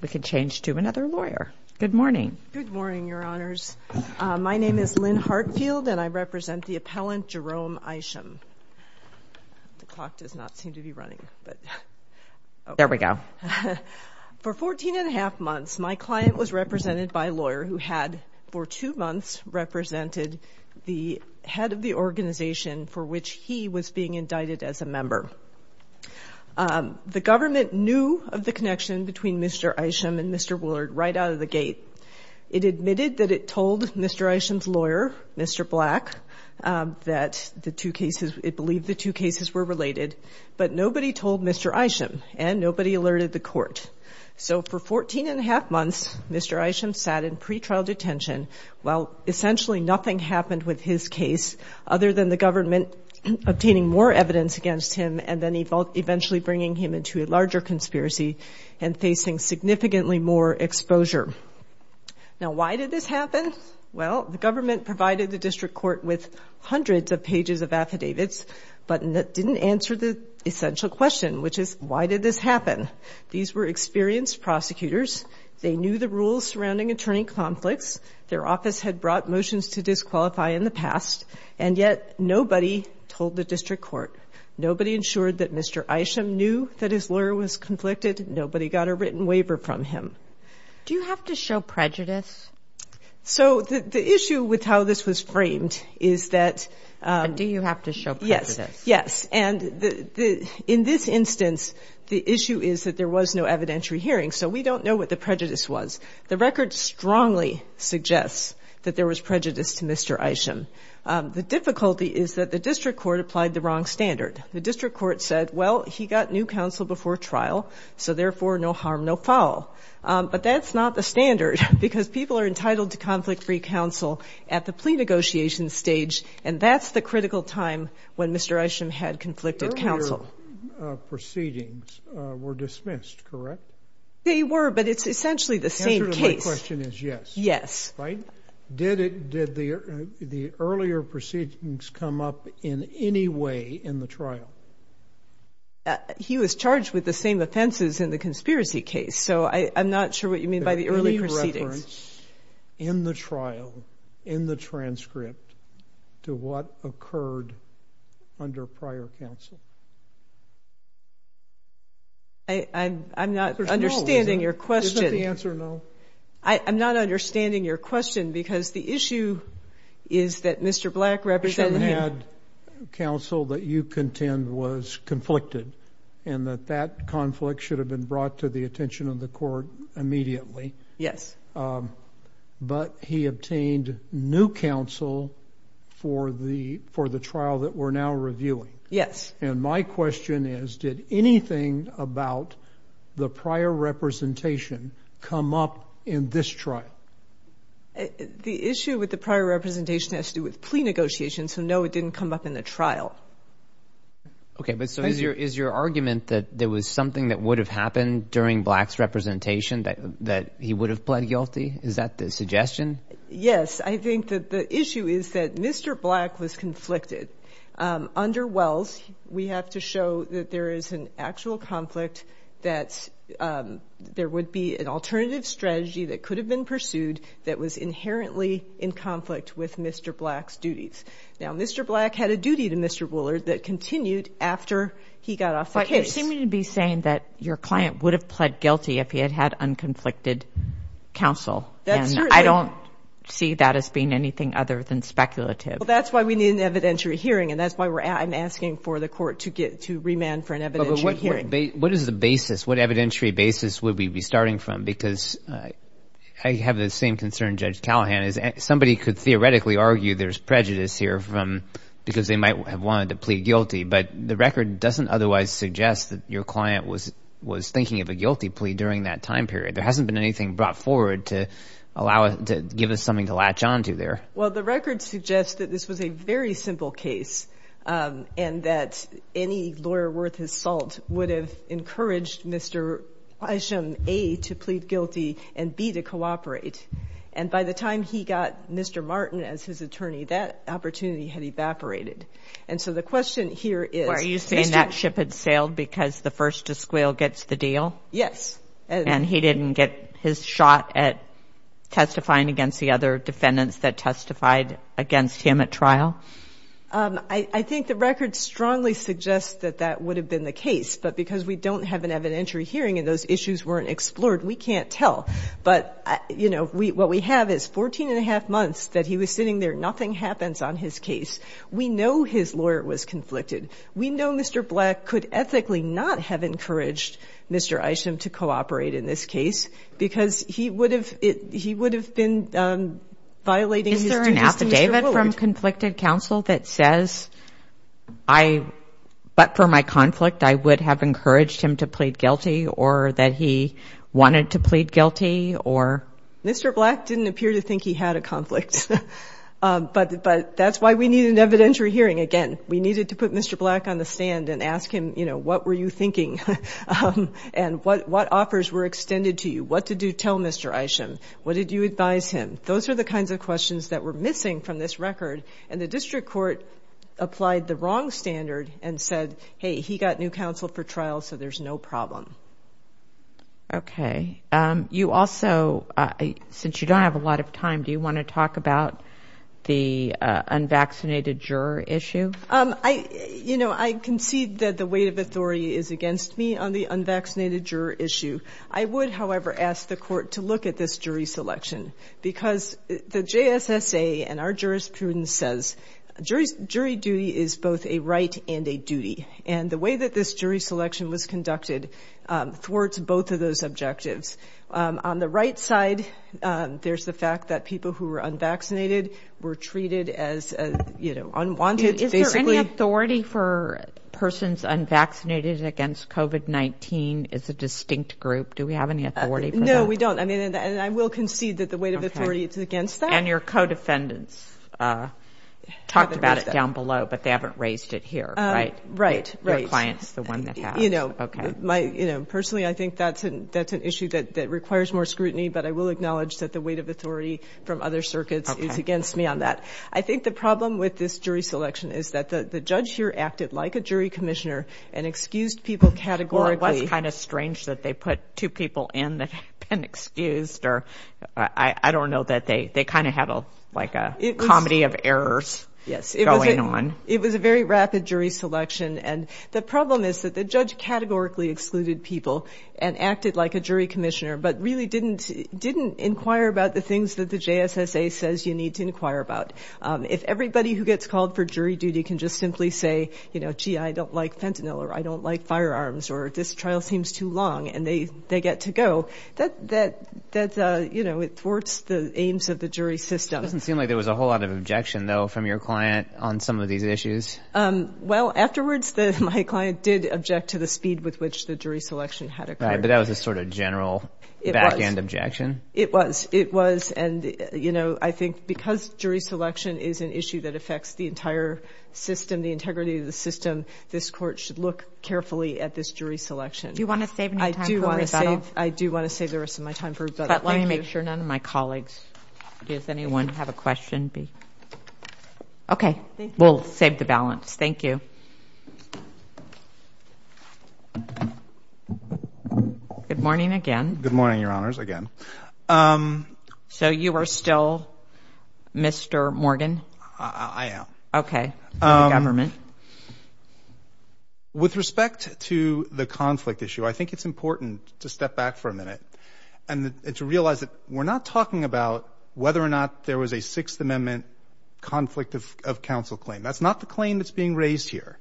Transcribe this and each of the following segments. We can change to another lawyer. Good morning. Good morning, Your Honors. My name is Lynn Hartfield, and I represent the appellant Jerome Isham. The clock does not seem to be running, but there we go. For 14 and a half months, my client was represented by a lawyer who had, for two months, represented the head of the organization for which he was being indicted as a member. The government knew of the connection between Mr. Isham and Mr. Willard right out of the gate. It admitted that it told Mr. Isham's lawyer, Mr. Black, that the two cases, it believed the two happened with his case, other than the government obtaining more evidence against him and then eventually bringing him into a larger conspiracy and facing significantly more exposure. Now, why did this happen? Well, the government provided the district court with hundreds of pages of affidavits, but it didn't answer the essential question, which is, why did this happen? These were experienced prosecutors. They knew the rules about motions to disqualify in the past, and yet nobody told the district court. Nobody ensured that Mr. Isham knew that his lawyer was conflicted. Nobody got a written waiver from him. Do you have to show prejudice? So the issue with how this was framed is that — But do you have to show prejudice? Yes. Yes. And in this instance, the issue is that there was no evidentiary hearing, so we don't know what the prejudice to Mr. Isham. The difficulty is that the district court applied the wrong standard. The district court said, well, he got new counsel before trial, so therefore no harm, no foul. But that's not the standard, because people are entitled to conflict-free counsel at the plea negotiation stage, and that's the critical time when Mr. Isham had conflicted counsel. Earlier proceedings were dismissed, correct? They were, but it's essentially the same case. My question is, yes. Yes. Right? Did the earlier proceedings come up in any way in the trial? He was charged with the same offenses in the conspiracy case, so I'm not sure what you mean by the early proceedings. Any reference in the trial, in the transcript, to what occurred under prior counsel? I'm not understanding your question. Is that the answer, no? I'm not understanding your question, because the issue is that Mr. Black represented him — Isham had counsel that you contend was conflicted, and that that conflict should have been brought to the attention of the court Yes. And my question is, did anything about the prior representation come up in this trial? The issue with the prior representation has to do with plea negotiations, so no, it didn't come up in the trial. Okay, but so is your argument that there was something that would have happened during Black's We have to show that there is an actual conflict, that there would be an alternative strategy that could have been pursued that was inherently in conflict with Mr. Black's duties. Now, Mr. Black had a duty to Mr. Woolard that continued after he got off the case. But you seem to be saying that your client would have pled guilty if he had had unconflicted counsel. That's true. And I don't see that as being anything other than speculative. Well, that's why we need an evidentiary hearing, and that's why I'm asking for the court to remand for an evidentiary hearing. But what is the basis? What evidentiary basis would we be starting from? Because I have the same concern, Judge Callahan, is somebody could theoretically argue there's prejudice here because they might have wanted to plea guilty, but the record doesn't otherwise suggest that your client was thinking of a guilty plea during that time period. There hasn't been And that any lawyer worth his salt would have encouraged Mr. A to plead guilty and B to cooperate. And by the time he got Mr. Martin as his attorney, that opportunity had evaporated. And so the question here is... Were you saying that ship had sailed because the first to squeal gets the deal? Yes. And he didn't get his shot at testifying against the other defendants that testified against him at trial? I think the record strongly suggests that that would have been the case. But because we don't have an evidentiary hearing and those issues weren't explored, we can't tell. But, you know, what we have is 14 and a half months that he was sitting there, nothing happens on his case. We know his lawyer was conflicted. We know Mr. Black could ethically not have encouraged Mr. Isham to cooperate in this case because he would have been violating... Is there an affidavit from conflicted counsel that says, but for my conflict, I would have encouraged him to plead guilty or that he wanted to plead guilty or... Mr. Black didn't appear to think he had a conflict. But that's why we need an affidavit. And what offers were extended to you? What did you tell Mr. Isham? What did you advise him? Those are the kinds of questions that were missing from this record. And the district court applied the wrong standard and said, hey, he got new counsel for trial, so there's no problem. Okay. You also... Since you don't have a lot of time, do you want to talk about the unvaccinated juror issue? You know, I concede that the weight of authority is against me on the unvaccinated juror issue. I would, however, ask the court to look at this jury selection because the JSSA and our jurisprudence says jury duty is both a right and a wrong. There's the fact that people who are unvaccinated were treated as unwanted. Is there any authority for persons unvaccinated against COVID-19 as a distinct group? Do we have any authority? No, we don't. And I will concede that the weight of authority is against that. And your co-defendants talked about it down below, but they haven't raised it here, right? Right. Your clients, the one that has. You know, personally, I think that's an issue that requires more scrutiny, but I will acknowledge that the weight of authority from other circuits is against me on that. I think the problem with this jury selection is that the judge here acted like a jury commissioner and excused people categorically. It was kind of strange that they put two people in that had been excused, or I don't know, that they kind of had like a comedy of errors going on. Yes, it was a very rapid jury selection, and the problem is that the judge categorically excluded people and acted like a jury commissioner, but really didn't inquire about the things that the JSSA says you need to inquire about. If everybody who gets called for jury duty can just simply say, you know, gee, I don't like fentanyl, or I don't like firearms, or this trial seems too long, and they get to go, that, you know, it thwarts the aims of the jury system. It doesn't seem like there was a whole lot of objection, though, from your client on some of these issues. Well, afterwards, my client did object to the speed with which the jury selection had occurred. Right, but that was a sort of general back-end objection. It was, it was, and, you know, I think because jury selection is an issue that affects the entire system, the integrity of the system, this court should look carefully at this jury selection. Do you want to save any time for rebuttal? I do want to save the rest of my time for rebuttal. Let me make sure none of my colleagues, does anyone have a question? Okay, we'll save the balance. Thank you. Good morning again. Good morning, Your Honors, again. So you are still Mr. Morgan? I am. Okay, for the government. With respect to the conflict issue, I think it's important to step back for a minute and to realize that we're not talking about whether or not there was a Sixth Amendment conflict of counsel claim. That's not the claim that's being raised here.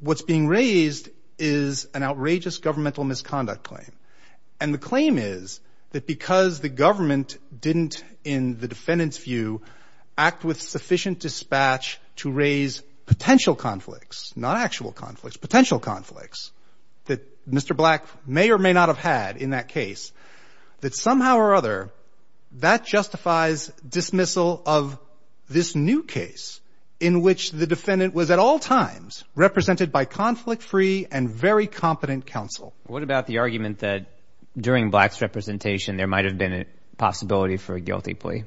What's being raised is an outrageous governmental misconduct claim. And the claim is that because the government didn't, in the defendant's view, act with sufficient dispatch to raise potential conflicts, not actual conflicts, potential conflicts that Mr. Black may or may not have had in that case, that somehow or other that justifies dismissal of this new case in which the defendant was at all times represented by conflict-free and very competent counsel. What about the argument that during Black's representation there might have been a possibility for a guilty plea?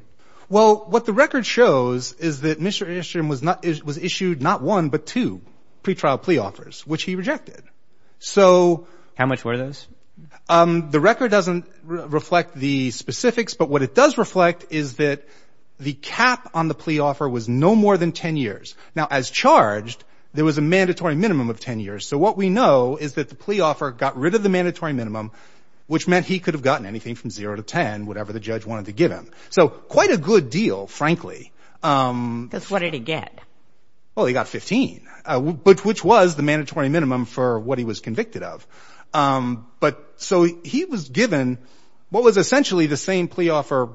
Well, what the record shows is that Mr. Enstrom was issued not one but two pretrial plea offers, which he rejected. How much were those? The record doesn't reflect the specifics, but what it does reflect is that the cap on the plea offer was no more than 10 years. Now, as charged, there was a mandatory minimum of 10 years. So what we know is that the plea offer got rid of the mandatory minimum, which meant he could have gotten anything from zero to 10, whatever the judge wanted to give him. So quite a good deal, frankly. Because what did he get? Well, he got 15, which was the mandatory minimum for what he was convicted of. But so he was given what was essentially the same plea offer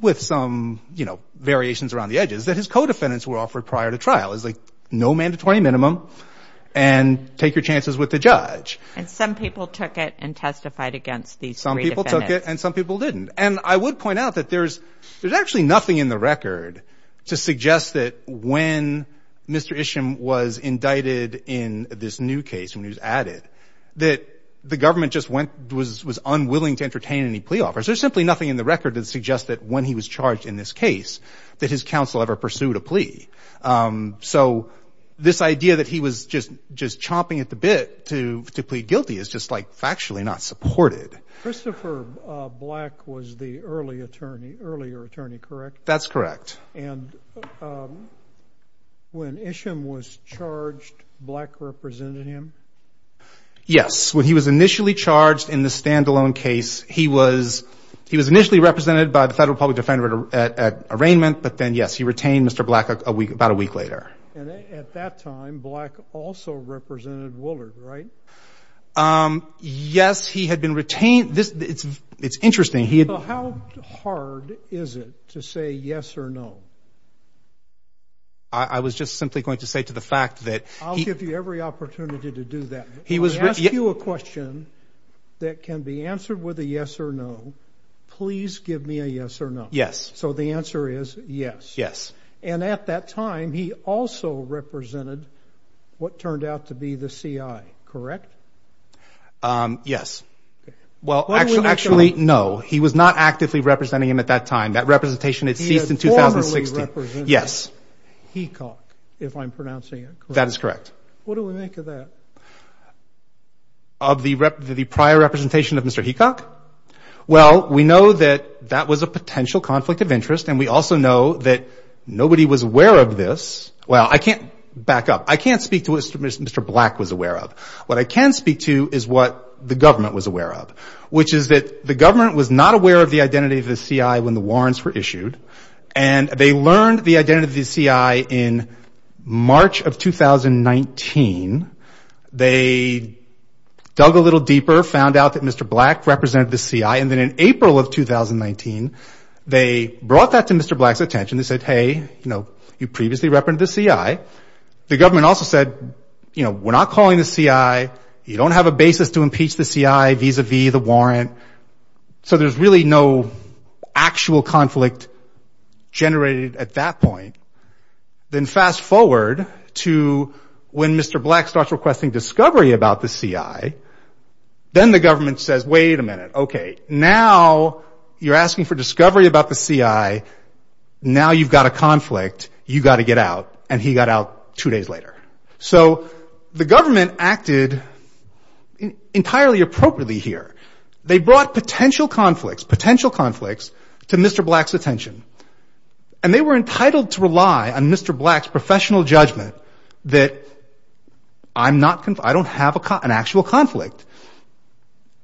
with some, you know, variations around the edges that his co-defendants were offered prior to trial. It was like no mandatory minimum and take your chances with the judge. And some people took it and testified against these three defendants. Some people took it and some people didn't. And I would point out that there's actually nothing in the record to suggest that when Mr. Isham was indicted in this new case, when he was added, that the government just was unwilling to entertain any plea offers. There's simply nothing in the record that suggests that when he was charged in this case that his counsel ever pursued a plea. So this idea that he was just chomping at the bit to plead guilty is just, like, factually not supported. Christopher Black was the earlier attorney, correct? That's correct. And when Isham was charged, Black represented him? Yes. When he was initially charged in the standalone case, he was initially represented by the Federal Public Defender at arraignment. But then, yes, he retained Mr. Black about a week later. And at that time, Black also represented Woolard, right? Yes, he had been retained. It's interesting. How hard is it to say yes or no? I was just simply going to say to the fact that he— I'll give you every opportunity to do that. If I ask you a question that can be answered with a yes or no, please give me a yes or no. Yes. So the answer is yes. Yes. And at that time, he also represented what turned out to be the CI, correct? Yes. Well, actually, no. He was not actively representing him at that time. That representation had ceased in 2016. He had formerly represented Hecox, if I'm pronouncing it correctly. That is correct. What do we make of that? Of the prior representation of Mr. Hecox? Well, we know that that was a potential conflict of interest, and we also know that nobody was aware of this. Well, I can't back up. I can't speak to what Mr. Black was aware of. What I can speak to is what the government was aware of, which is that the government was not aware of the identity of the CI when the warrants were issued, and they learned the identity of the CI in March of 2019. They dug a little deeper, found out that Mr. Black represented the CI, and then in April of 2019, they brought that to Mr. Black's attention. They said, hey, you previously represented the CI. The government also said, you know, we're not calling the CI. You don't have a basis to impeach the CI vis-à-vis the warrant. So there's really no actual conflict generated at that point. Then fast forward to when Mr. Black starts requesting discovery about the CI, then the government says, wait a minute. Okay, now you're asking for discovery about the CI. Now you've got a conflict. You've got to get out, and he got out two days later. So the government acted entirely appropriately here. They brought potential conflicts, potential conflicts to Mr. Black's attention, and they were entitled to rely on Mr. Black's professional judgment that I don't have an actual conflict,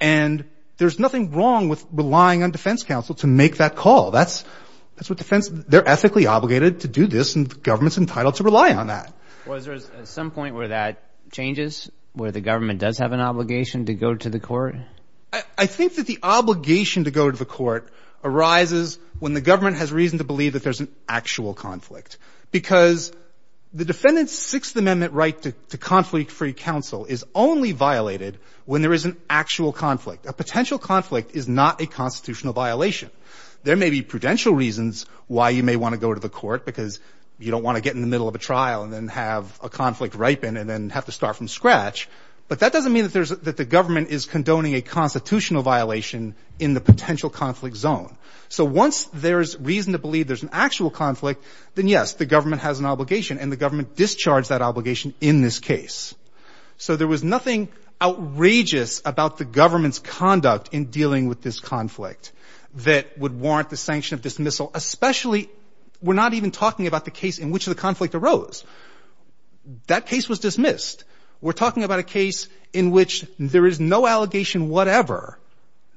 and there's nothing wrong with relying on defense counsel to make that call. That's what defense – they're ethically obligated to do this, and the government's entitled to rely on that. Was there some point where that changes, where the government does have an obligation to go to the court? I think that the obligation to go to the court arises when the government has reason to believe that there's an actual conflict because the defendant's Sixth Amendment right to conflict-free counsel is only violated when there is an actual conflict. A potential conflict is not a constitutional violation. There may be prudential reasons why you may want to go to the court because you don't want to get in the middle of a trial and then have a conflict ripen and then have to start from scratch, but that doesn't mean that the government is condoning a constitutional violation in the potential conflict zone. So once there's reason to believe there's an actual conflict, then yes, the government has an obligation, and the government discharged that obligation in this case. So there was nothing outrageous about the government's conduct in dealing with this conflict that would warrant the sanction of dismissal, especially – we're not even talking about the case in which the conflict arose. That case was dismissed. We're talking about a case in which there is no allegation whatever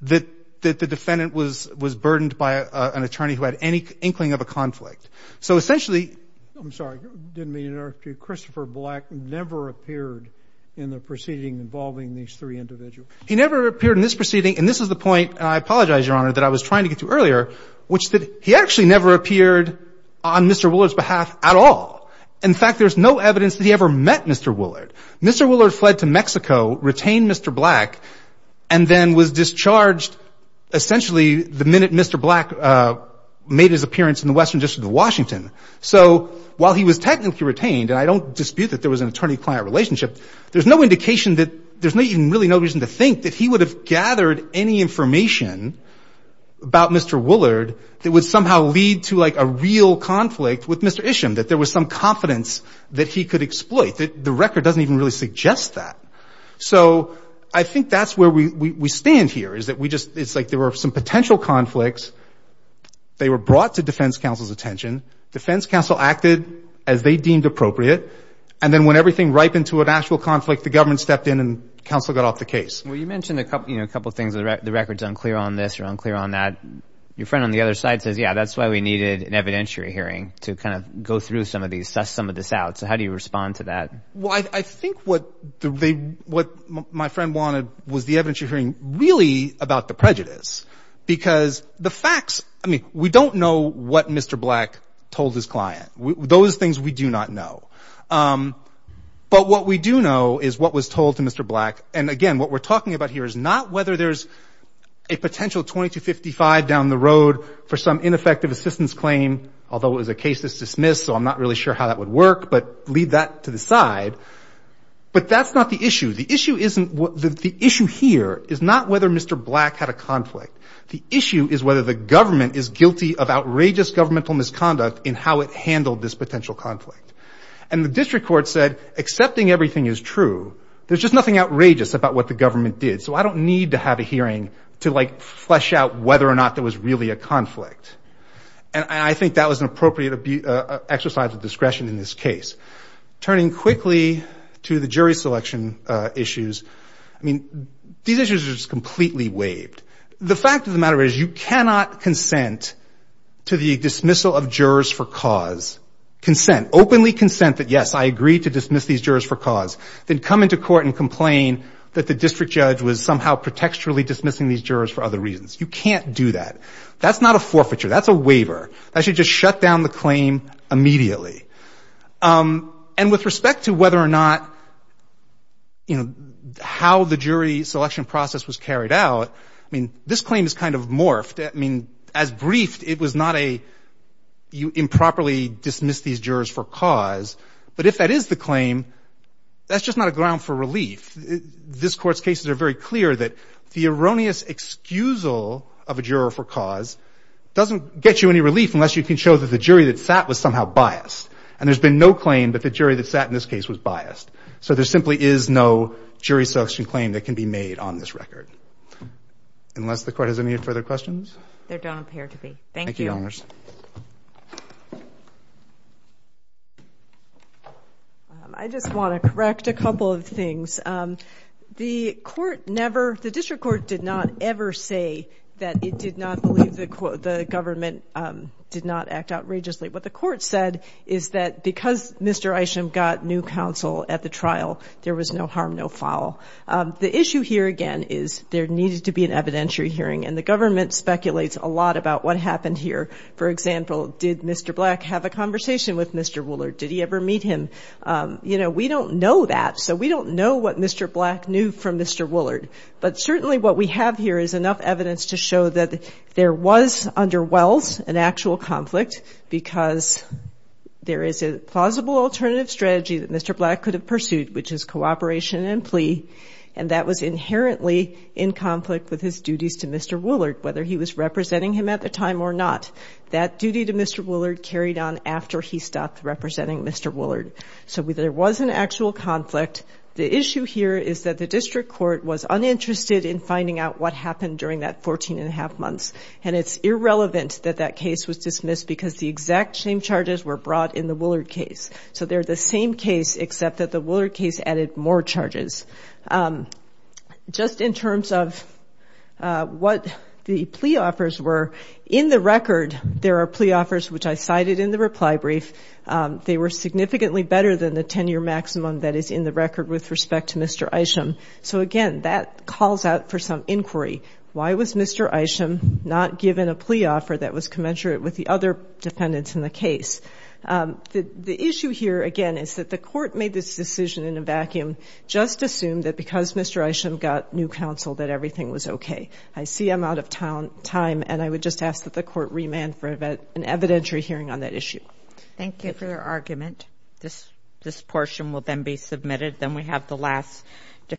that the defendant was burdened by an attorney who had any inkling of a conflict. So essentially – I'm sorry. Didn't mean to interrupt you. Christopher Black never appeared in the proceeding involving these three individuals. He never appeared in this proceeding, and this is the point, and I apologize, Your Honor, that I was trying to get to earlier, which is that he actually never appeared on Mr. Willard's behalf at all. In fact, there's no evidence that he ever met Mr. Willard. Mr. Willard fled to Mexico, retained Mr. Black, and then was discharged essentially the minute Mr. Black made his appearance in the Western District of Washington. So while he was technically retained, and I don't dispute that there was an attorney-client relationship, there's no indication that – there's really no reason to think that he would have gathered any information about Mr. Willard that would somehow lead to, like, a real conflict with Mr. Isham, that there was some confidence that he could exploit. The record doesn't even really suggest that. So I think that's where we stand here, is that we just – it's like there were some potential conflicts. They were brought to defense counsel's attention. Defense counsel acted as they deemed appropriate, and then when everything ripened to an actual conflict, the government stepped in and counsel got off the case. Well, you mentioned a couple of things. The record's unclear on this or unclear on that. Your friend on the other side says, yeah, that's why we needed an evidentiary hearing to kind of go through some of these, test some of this out. So how do you respond to that? Well, I think what my friend wanted was the evidentiary hearing really about the prejudice because the facts – I mean, we don't know what Mr. Black told his client. Those things we do not know. But what we do know is what was told to Mr. Black. And again, what we're talking about here is not whether there's a potential 2255 down the road for some ineffective assistance claim, although it was a case that's dismissed, so I'm not really sure how that would work, but leave that to the side. But that's not the issue. The issue isn't – the issue here is not whether Mr. Black had a conflict. The issue is whether the government is guilty of outrageous governmental misconduct in how it handled this potential conflict. And the district court said accepting everything is true. There's just nothing outrageous about what the government did, so I don't need to have a hearing to, like, flesh out whether or not there was really a conflict. And I think that was an appropriate exercise of discretion in this case. Turning quickly to the jury selection issues, I mean, these issues are just completely waived. The fact of the matter is you cannot consent to the dismissal of jurors for cause, consent, openly consent that, yes, I agree to dismiss these jurors for cause, then come into court and complain that the district judge was somehow pretextually dismissing these jurors for other reasons. You can't do that. That's not a forfeiture. That's a waiver. That should just shut down the claim immediately. And with respect to whether or not, you know, how the jury selection process was carried out, I mean, this claim is kind of morphed. I mean, as briefed, it was not a you improperly dismiss these jurors for cause. But if that is the claim, that's just not a ground for relief. This Court's cases are very clear that the erroneous excusal of a juror for cause doesn't get you any relief unless you can show that the jury that sat was somehow biased. And there's been no claim that the jury that sat in this case was biased. So there simply is no jury selection claim that can be made on this record. Unless the Court has any further questions? They don't appear to be. Thank you. Thank you, Your Honors. I just want to correct a couple of things. The court never, the district court did not ever say that it did not believe the government did not act outrageously. What the court said is that because Mr. Isham got new counsel at the trial, there was no harm, no foul. The issue here, again, is there needed to be an evidentiary hearing. And the government speculates a lot about what happened here. For example, did Mr. Black have a conversation with Mr. Woolard? Did he ever meet him? You know, we don't know that. So we don't know what Mr. Black knew from Mr. Woolard. But certainly what we have here is enough evidence to show that there was under Wells an actual conflict because there is a plausible alternative strategy that Mr. Black could have pursued, which is cooperation and plea. And that was inherently in conflict with his duties to Mr. Woolard, whether he was Mr. Black or not. That duty to Mr. Woolard carried on after he stopped representing Mr. Woolard. So there was an actual conflict. The issue here is that the district court was uninterested in finding out what happened during that 14 and a half months. And it's irrelevant that that case was dismissed because the exact same charges were brought in the Woolard case. So they're the same case, except that the Woolard case added more charges. Just in terms of what the plea offers were, in the record there are plea offers which I cited in the reply brief. They were significantly better than the 10-year maximum that is in the record with respect to Mr. Isham. So again, that calls out for some inquiry. Why was Mr. Isham not given a plea offer that was commensurate with the other defendants in the case? The issue here, again, is that the court made this decision in a vacuum, just assumed that because Mr. Isham got new counsel that everything was okay. I see I'm out of time, and I would just ask that the court remand for an evidentiary hearing on that issue. Thank you for your argument. This portion will then be submitted. Then we have the last defense.